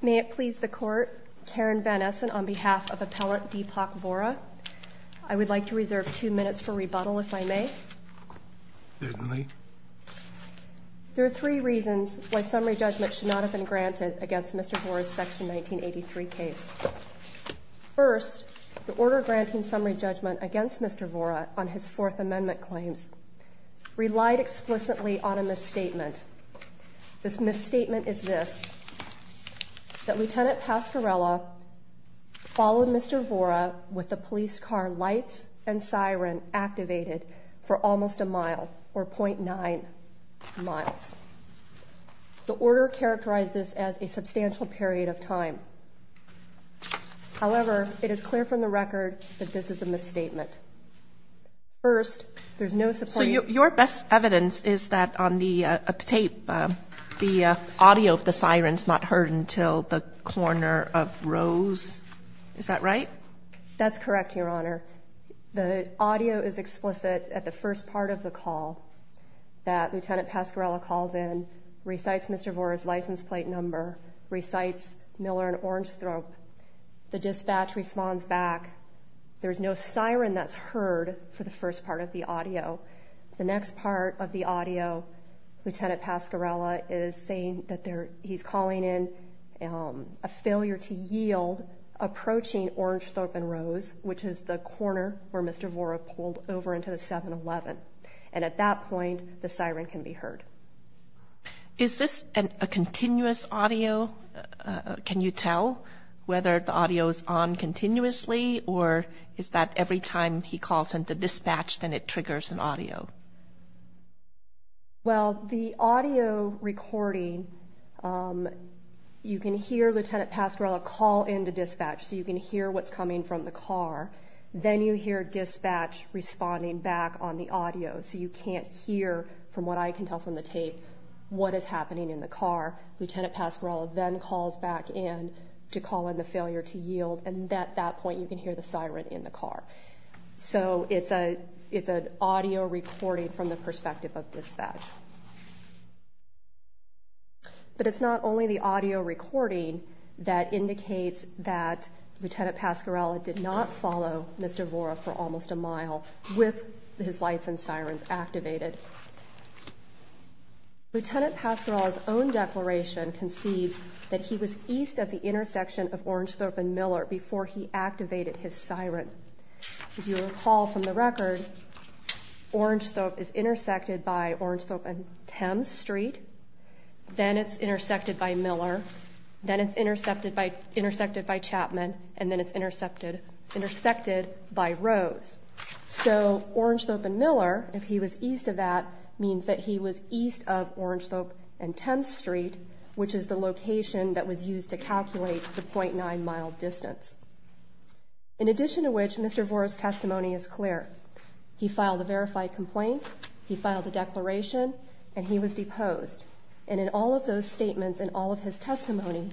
May it please the Court, Karen Van Essen on behalf of Appellant Deepak Vohra, I would like to reserve two minutes for rebuttal if I may. Certainly. There are three reasons why summary judgment should not have been granted against Mr. Vohra's Section 1983 case. First, the order granting summary judgment against Mr. Vohra on his Fourth Amendment claims relied explicitly on a misstatement. This misstatement is this, that Lt. Pascarella followed Mr. Vohra with the police car lights and siren activated for almost a mile, or .9 miles. The order characterized this as a substantial period of time. However, it is clear from the record that this is a misstatement. First, there is no supporting. So your best evidence is that on the tape, the audio of the siren is not heard until the corner of rows. Is that right? That's correct, Your Honor. The audio is explicit at the first part of the call that Lt. Pascarella calls in, recites Mr. Vohra's license plate number, recites Miller and Orange Thrope. The dispatch responds back, there's no siren that's heard for the first part of the audio. The next part of the audio, Lt. Pascarella is saying that he's calling in a failure to yield approaching Orange Thrope and Rose, which is the corner where Mr. Vohra pulled over into the 7-Eleven. And at that point, the siren can be heard. Is this a continuous audio? Can you tell whether the audio is on continuously, or is that every time he calls into dispatch, then it triggers an audio? Well, the audio recording, you can hear Lt. Pascarella call into dispatch, so you can hear what's coming from the car. Then you hear dispatch responding back on the audio, so you can't hear from what I can tell from the tape what is happening in the car. Lt. Pascarella then calls back in to call in the failure to yield, and at that point, you can hear the siren in the car. So it's an audio recording from the perspective of dispatch. But it's not only the audio recording that indicates that Lt. Pascarella did not follow Mr. Vohra for almost a mile with his lights and sirens activated. Lt. Pascarella's own declaration conceived that he was east of the intersection of Orange Thrope and Miller before he activated his siren. As you recall from the record, Orange Thrope is intersected by Orange Thrope and Thames Street, then it's intersected by Miller, then it's intersected by Chapman, and then it's intersected by Rose. So Orange Thrope and Miller, if he was east of that, means that he was east of Orange Thrope and Thames Street, which is the location that was used to calculate the .9 mile distance. In addition to which, Mr. Vohra's testimony is clear. He filed a verified complaint, he filed a declaration, and he was deposed. And in all of those statements and all of his testimony,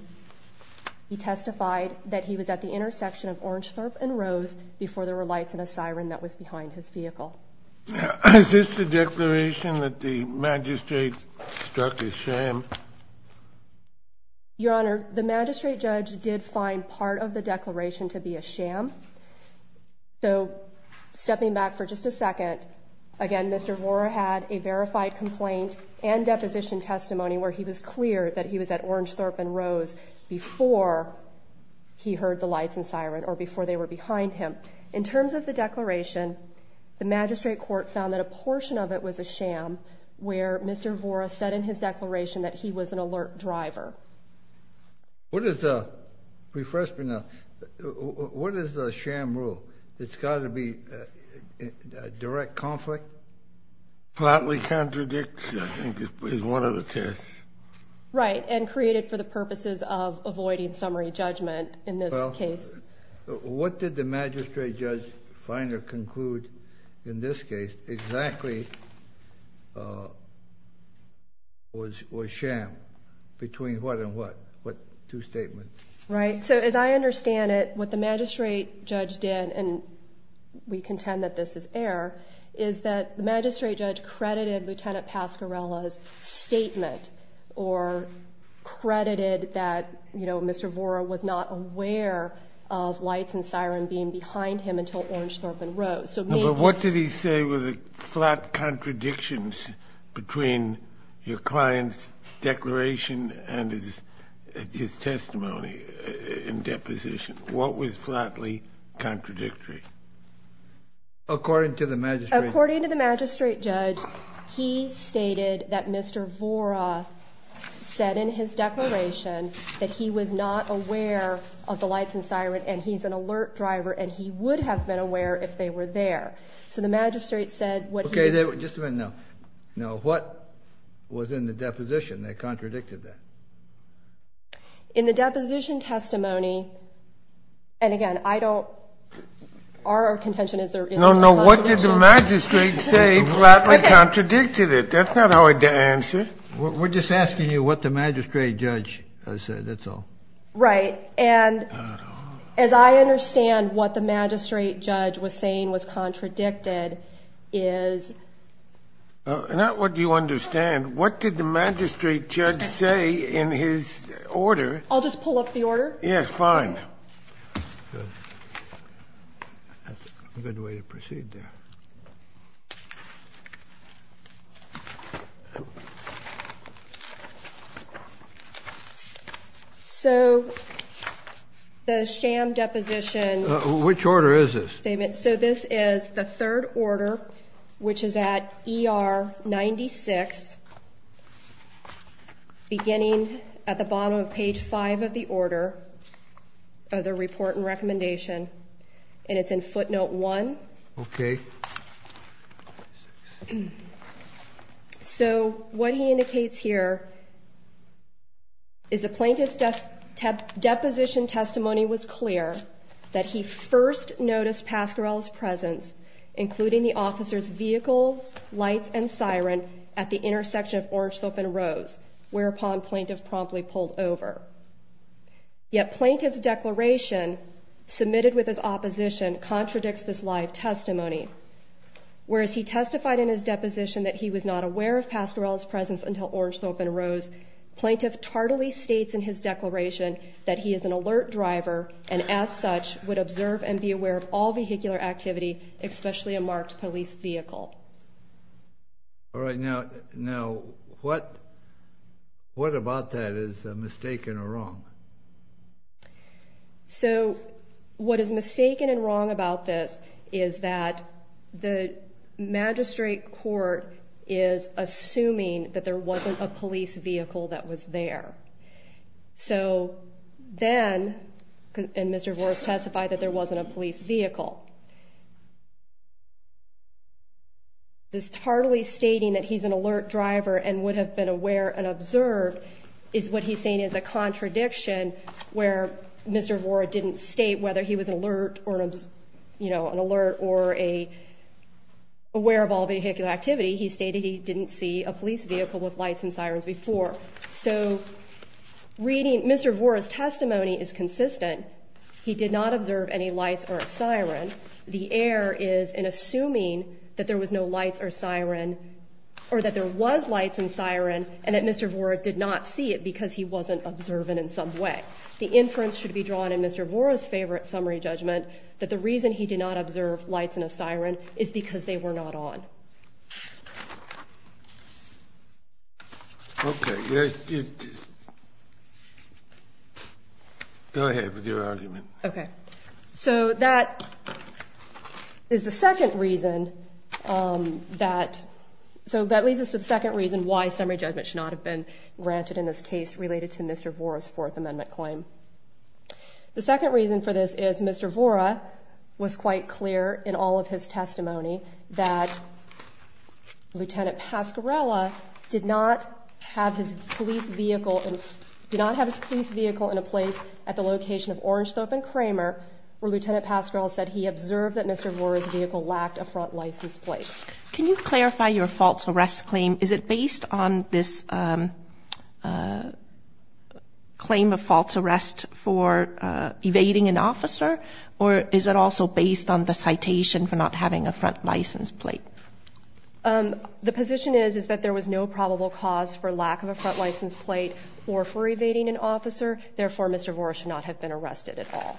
he testified that he was at the intersection of Orange Thrope and Rose before there were lights and a siren that was behind his vehicle. Is this the declaration that the magistrate struck as sham? Your Honor, the magistrate judge did find part of the declaration to be a sham. So stepping back for just a second, again, Mr. Vohra had a verified complaint and deposition testimony where he was clear that he was at Orange Thrope and Rose before he heard the lights and siren or before they were behind him. In terms of the declaration, the magistrate court found that a portion of it was a sham where Mr. Vohra said in his declaration that he was an alert driver. What is a sham rule? It's got to be a direct conflict? Flatly contradicts, I think, is one of the tests. Right, and created for the purposes of avoiding summary judgment in this case. What did the magistrate judge find or conclude in this case exactly was sham? Between what and what? What two statements? Right. So as I understand it, what the magistrate judge did, and we contend that this is error, is that the magistrate judge credited Lieutenant Pascarella's statement or credited that, you know, Mr. Vohra was not aware of lights and siren being behind him until Orange Thrope and Rose. So maybe it's... But what did he say were the flat contradictions between your client's declaration and his testimony in deposition? What was flatly contradictory? According to the magistrate... Mr. Vohra said in his declaration that he was not aware of the lights and siren and he's an alert driver and he would have been aware if they were there. So the magistrate said what he... Okay, just a minute now. Now, what was in the deposition that contradicted that? In the deposition testimony, and again, I don't... Our contention is there isn't... No, no. What did the magistrate say flatly contradicted it? That's not how I'd answer. We're just asking you what the magistrate judge said, that's all. Right. And as I understand what the magistrate judge was saying was contradicted is... Not what you understand. What did the magistrate judge say in his order? I'll just pull up the order. Yes, fine. Good. That's a good way to proceed there. So the sham deposition... Which order is this? So this is the third order, which is at ER 96, beginning at the bottom of page five of the order of the report and recommendation, and it's in footnote one. Okay. So what he indicates here is the plaintiff's deposition testimony was clear, that he first noticed Pascarell's presence, including the officer's vehicles, lights, and siren at the intersection of Orange Slope and Rose, whereupon plaintiff promptly pulled over. Yet plaintiff's declaration submitted with his opposition contradicts this live testimony. Whereas he testified in his deposition that he was not aware of Pascarell's presence until Orange Slope and Rose, plaintiff tardily states in his declaration that he is an alert driver and as such would observe and be aware of all vehicular activity, especially a marked police vehicle. All right. Now what about that is mistaken or wrong? So what is mistaken and wrong about this is that the magistrate court is assuming that there wasn't a police vehicle that was there. So then, and Mr. Vora testified that there wasn't a police vehicle. This tardily stating that he's an alert driver and would have been aware and observed is what he's saying is a contradiction where Mr. Vora didn't state whether he was alert or, you know, an alert or aware of all vehicular activity. He stated he didn't see a police vehicle with lights and sirens before. So reading Mr. Vora's testimony is consistent. He did not observe any lights or a siren. The error is in assuming that there was no lights or siren or that there was lights and siren and that Mr. Vora did not see it because he wasn't observant in some way. The inference should be drawn in Mr. Vora's favorite summary judgment that the reason he did not observe lights and a siren is because they were not on. Okay. Go ahead with your argument. Okay. So that is the second reason that, so that leads us to the second reason why summary judgment should not have been granted in this case related to Mr. Vora's Fourth Amendment claim. The second reason for this is Mr. Vora was quite clear in all of his testimony that Lieutenant Pascarella did not have his police vehicle in a place at the location of Orange Throat and Kramer where Lieutenant Pascarella said he observed that Mr. Vora's vehicle lacked a front license plate. Can you clarify your false arrest claim? Is it based on this claim of false arrest for evading an officer, or is it also based on the citation for not having a front license plate? The position is that there was no probable cause for lack of a front license plate or for evading an officer. Therefore, Mr. Vora should not have been arrested at all.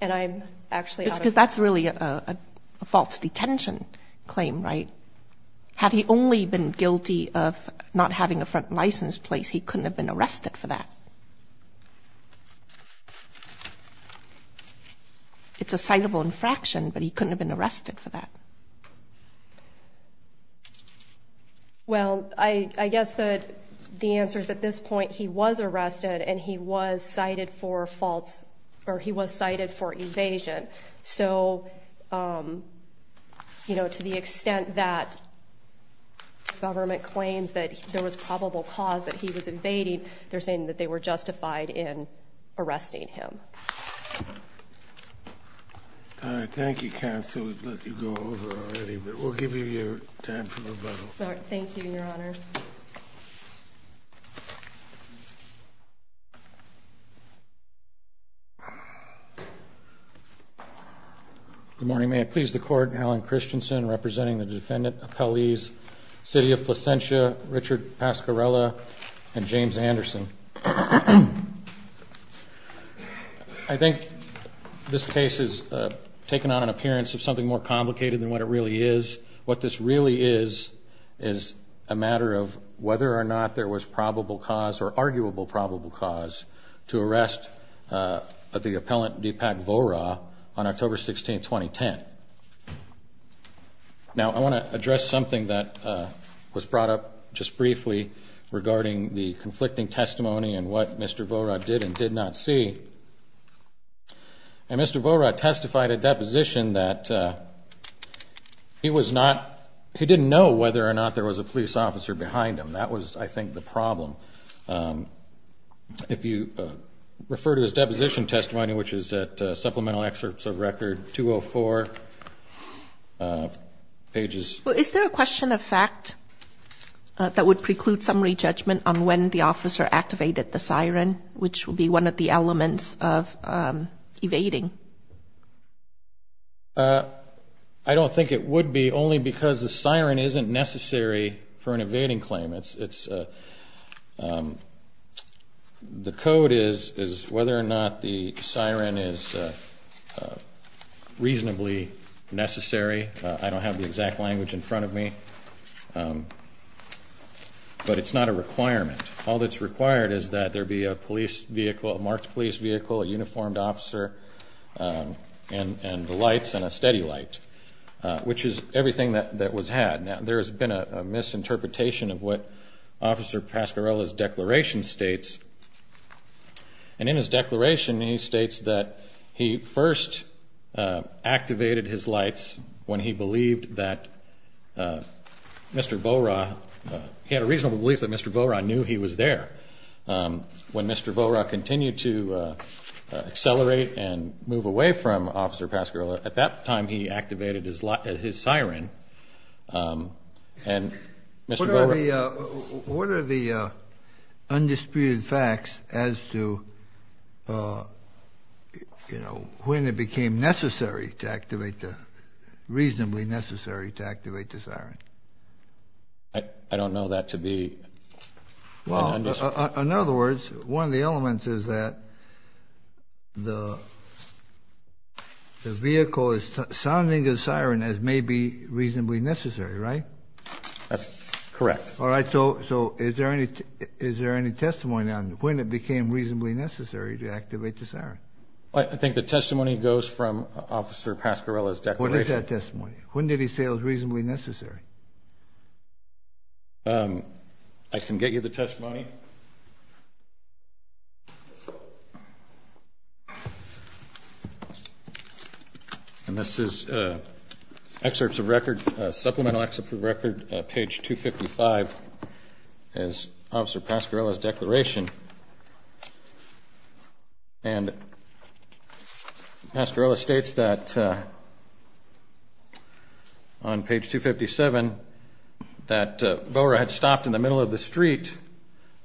And I'm actually out of time. Because that's really a false detention claim, right? Had he only been guilty of not having a front license plate, he couldn't have been arrested for that. It's a citable infraction, but he couldn't have been arrested for that. Well, I guess the answer is at this point he was arrested and he was cited for false, or he was cited for evasion. So, you know, to the extent that the government claims that there was probable cause that he was evading, they're saying that they were justified in arresting him. All right. Thank you, Counsel. We've let you go over already, but we'll give you your time for rebuttal. All right. Thank you, Your Honor. Good morning. May it please the Court. Allen Christensen, representing the defendant, appellees City of Placentia, Richard Pasquarella, and James Anderson. I think this case has taken on an appearance of something more complicated than what it really is. What this really is is a matter of whether or not there was probable cause or arguable probable cause to arrest the appellant, Deepak Vohra, on October 16, 2010. Now, I want to address something that was brought up just briefly regarding the conflicting testimony and what Mr. Vohra did and did not see. Mr. Vohra testified at deposition that he didn't know whether or not there was a police officer behind him. That was, I think, the problem. If you refer to his deposition testimony, which is at Supplemental Excerpts of Record 204, pages... Well, is there a question of fact that would preclude summary judgment on when the officer activated the siren, which would be one of the elements of evading? I don't think it would be, only because the siren isn't necessary for an evading claim. It's... The code is whether or not the siren is reasonably necessary. I don't have the exact language in front of me. But it's not a requirement. All that's required is that there be a police vehicle, a marked police vehicle, a uniformed officer, and the lights and a steady light, which is everything that was had. Now, there has been a misinterpretation of what Officer Pasquarello's declaration states. And in his declaration, he states that he first activated his lights when he believed that Mr. Vohra... He had a reasonable belief that Mr. Vohra knew he was there. When Mr. Vohra continued to accelerate and move away from Officer Pasquarello, at that time he activated his siren. And Mr. Vohra... What are the undisputed facts as to, you know, when it became necessary to activate the... reasonably necessary to activate the siren? I don't know that to be... Well, in other words, one of the elements is that the vehicle is sounding the siren as may be reasonably necessary, right? That's correct. All right, so is there any testimony on when it became reasonably necessary to activate the siren? I think the testimony goes from Officer Pasquarello's declaration. What is that testimony? When did he say it was reasonably necessary? I can get you the testimony. And this is excerpts of record, supplemental excerpts of record, page 255, as Officer Pasquarello's declaration. And Pasquarello states that on page 257 that Vohra had stopped in the middle of the street,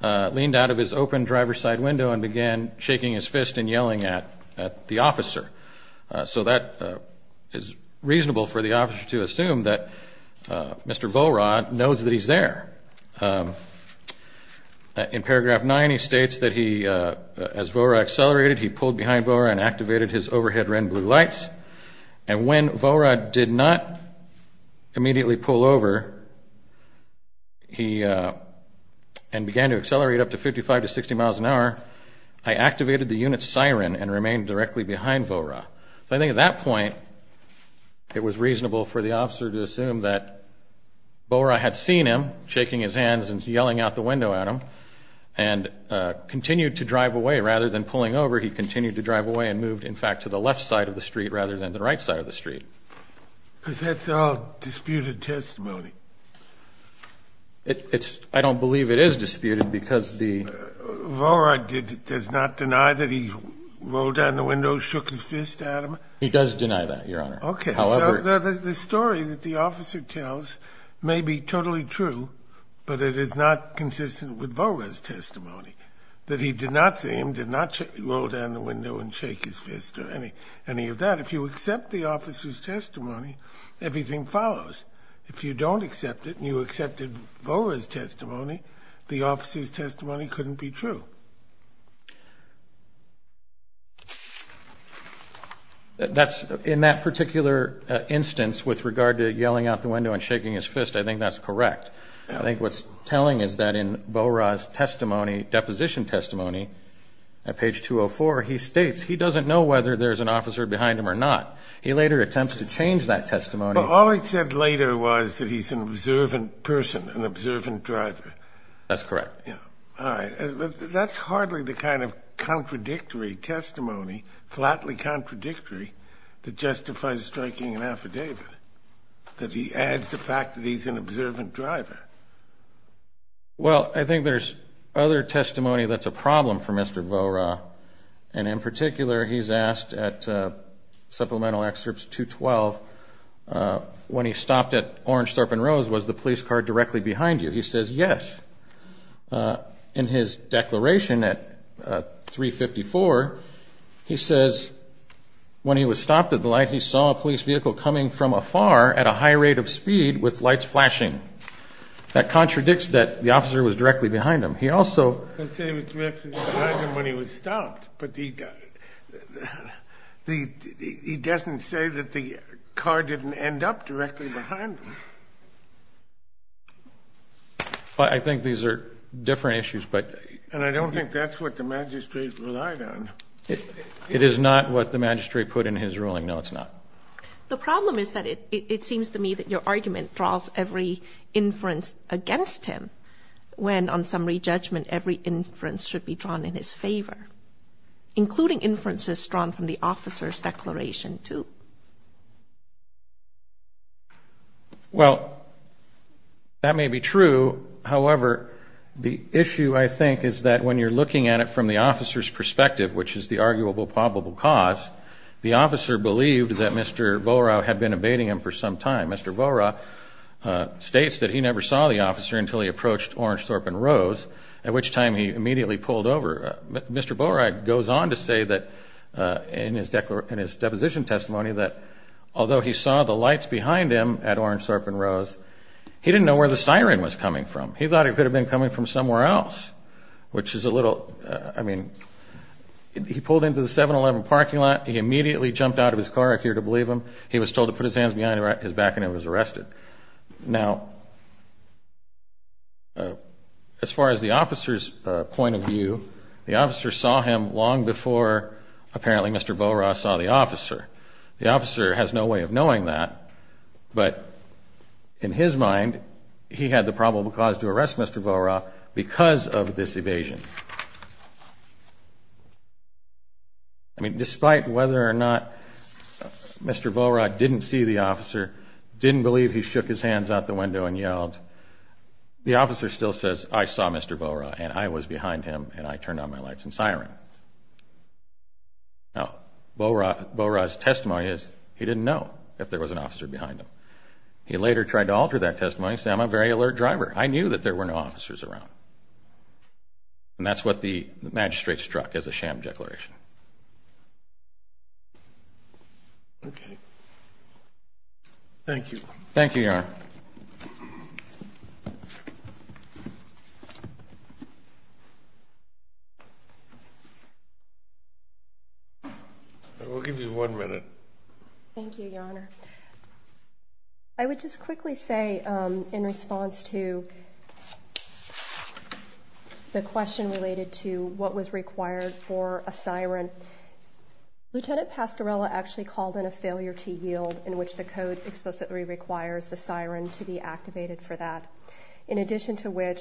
leaned out of his open driver's side window and began shaking his fist and yelling at the officer. So that is reasonable for the officer to assume that Mr. Vohra knows that he's there. In paragraph 9, he states that as Vohra accelerated, he pulled behind Vohra and activated his overhead red and blue lights. And when Vohra did not immediately pull over and began to accelerate up to 55 to 60 miles an hour, I activated the unit's siren and remained directly behind Vohra. So I think at that point, it was reasonable for the officer to assume that Vohra had seen him shaking his hands and yelling out the window at him and continued to drive away. Rather than pulling over, he continued to drive away and moved, in fact, to the left side of the street rather than the right side of the street. Because that's all disputed testimony. I don't believe it is disputed because the... The court does not deny that he rolled down the window, shook his fist at him? He does deny that, Your Honor. Okay. However... So the story that the officer tells may be totally true, but it is not consistent with Vohra's testimony, that he did not see him, did not roll down the window and shake his fist or any of that. If you accept the officer's testimony, everything follows. If you don't accept it and you accepted Vohra's testimony, the officer's testimony couldn't be true. That's... In that particular instance with regard to yelling out the window and shaking his fist, I think that's correct. I think what's telling is that in Vohra's testimony, deposition testimony, at page 204, he states he doesn't know whether there's an officer behind him or not. He later attempts to change that testimony. But all he said later was that he's an observant person, an observant driver. That's correct. All right. That's hardly the kind of contradictory testimony, flatly contradictory, that justifies striking an affidavit, that he adds the fact that he's an observant driver. Well, I think there's other testimony that's a problem for Mr. Vohra, and in particular he's asked at supplemental excerpts 212, when he stopped at Orange Thorpe and Rose, was the police car directly behind you? He says yes. In his declaration at 354, he says when he was stopped at the light, he saw a police vehicle coming from afar at a high rate of speed with lights flashing. That contradicts that the officer was directly behind him. He also said he was directly behind him when he was stopped, but he doesn't say that the car didn't end up directly behind him. I think these are different issues, but. And I don't think that's what the magistrate relied on. It is not what the magistrate put in his ruling. No, it's not. The problem is that it seems to me that your argument draws every inference against him when, on summary judgment, every inference should be drawn in his favor, including inferences drawn from the officer's declaration too. Well, that may be true. However, the issue, I think, is that when you're looking at it from the officer's perspective, which is the arguable probable cause, the officer believed that Mr. Vohra had been evading him for some time. Mr. Vohra states that he never saw the officer until he approached Orange, Thorpe & Rose, at which time he immediately pulled over. Mr. Vohra goes on to say that in his deposition testimony that although he saw the lights behind him at Orange, Thorpe & Rose, he didn't know where the siren was coming from. He thought it could have been coming from somewhere else, which is a little, I mean. He pulled into the 7-Eleven parking lot. He immediately jumped out of his car, I fear to believe him. He was told to put his hands behind his back, and he was arrested. Now, as far as the officer's point of view, the officer saw him long before apparently Mr. Vohra saw the officer. The officer has no way of knowing that, but in his mind, he had the probable cause to arrest Mr. Vohra because of this evasion. I mean, despite whether or not Mr. Vohra didn't see the officer, didn't believe he shook his hands out the window and yelled, the officer still says, I saw Mr. Vohra, and I was behind him, and I turned on my lights and siren. Now, Vohra's testimony is he didn't know if there was an officer behind him. He later tried to alter that testimony and said, I'm a very alert driver. I knew that there were no officers around. And that's what the magistrate struck as a sham declaration. Okay. Thank you, Your Honor. We'll give you one minute. Thank you, Your Honor. I would just quickly say, in response to the question related to what was required for a siren, Lieutenant Pascarella actually called in a failure to yield, in which the code explicitly requires the siren to be activated for that, in addition to which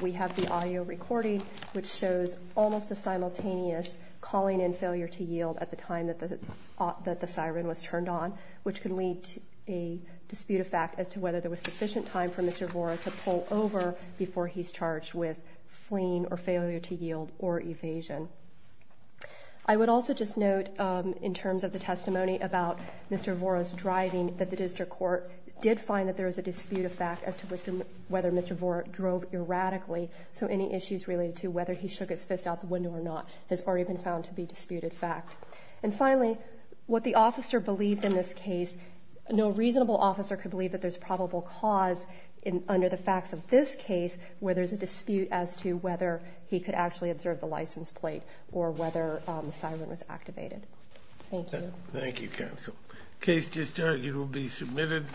we have the audio recording, which shows almost a simultaneous calling in failure to yield at the time that the siren was turned on, which could lead to a dispute of fact as to whether there was sufficient time for Mr. Vohra to pull over before he's charged with fleeing or failure to yield or evasion. I would also just note, in terms of the testimony about Mr. Vohra's driving, that the district court did find that there was a dispute of fact as to whether Mr. Vohra drove erratically, so any issues related to whether he shook his fist out the window or not has already been found to be disputed fact. And finally, what the officer believed in this case, no reasonable officer could believe that there's probable cause under the facts of this case where there's a dispute as to whether he could actually observe the license plate or whether the siren was activated. Thank you. Thank you, counsel. Case just argued will be submitted.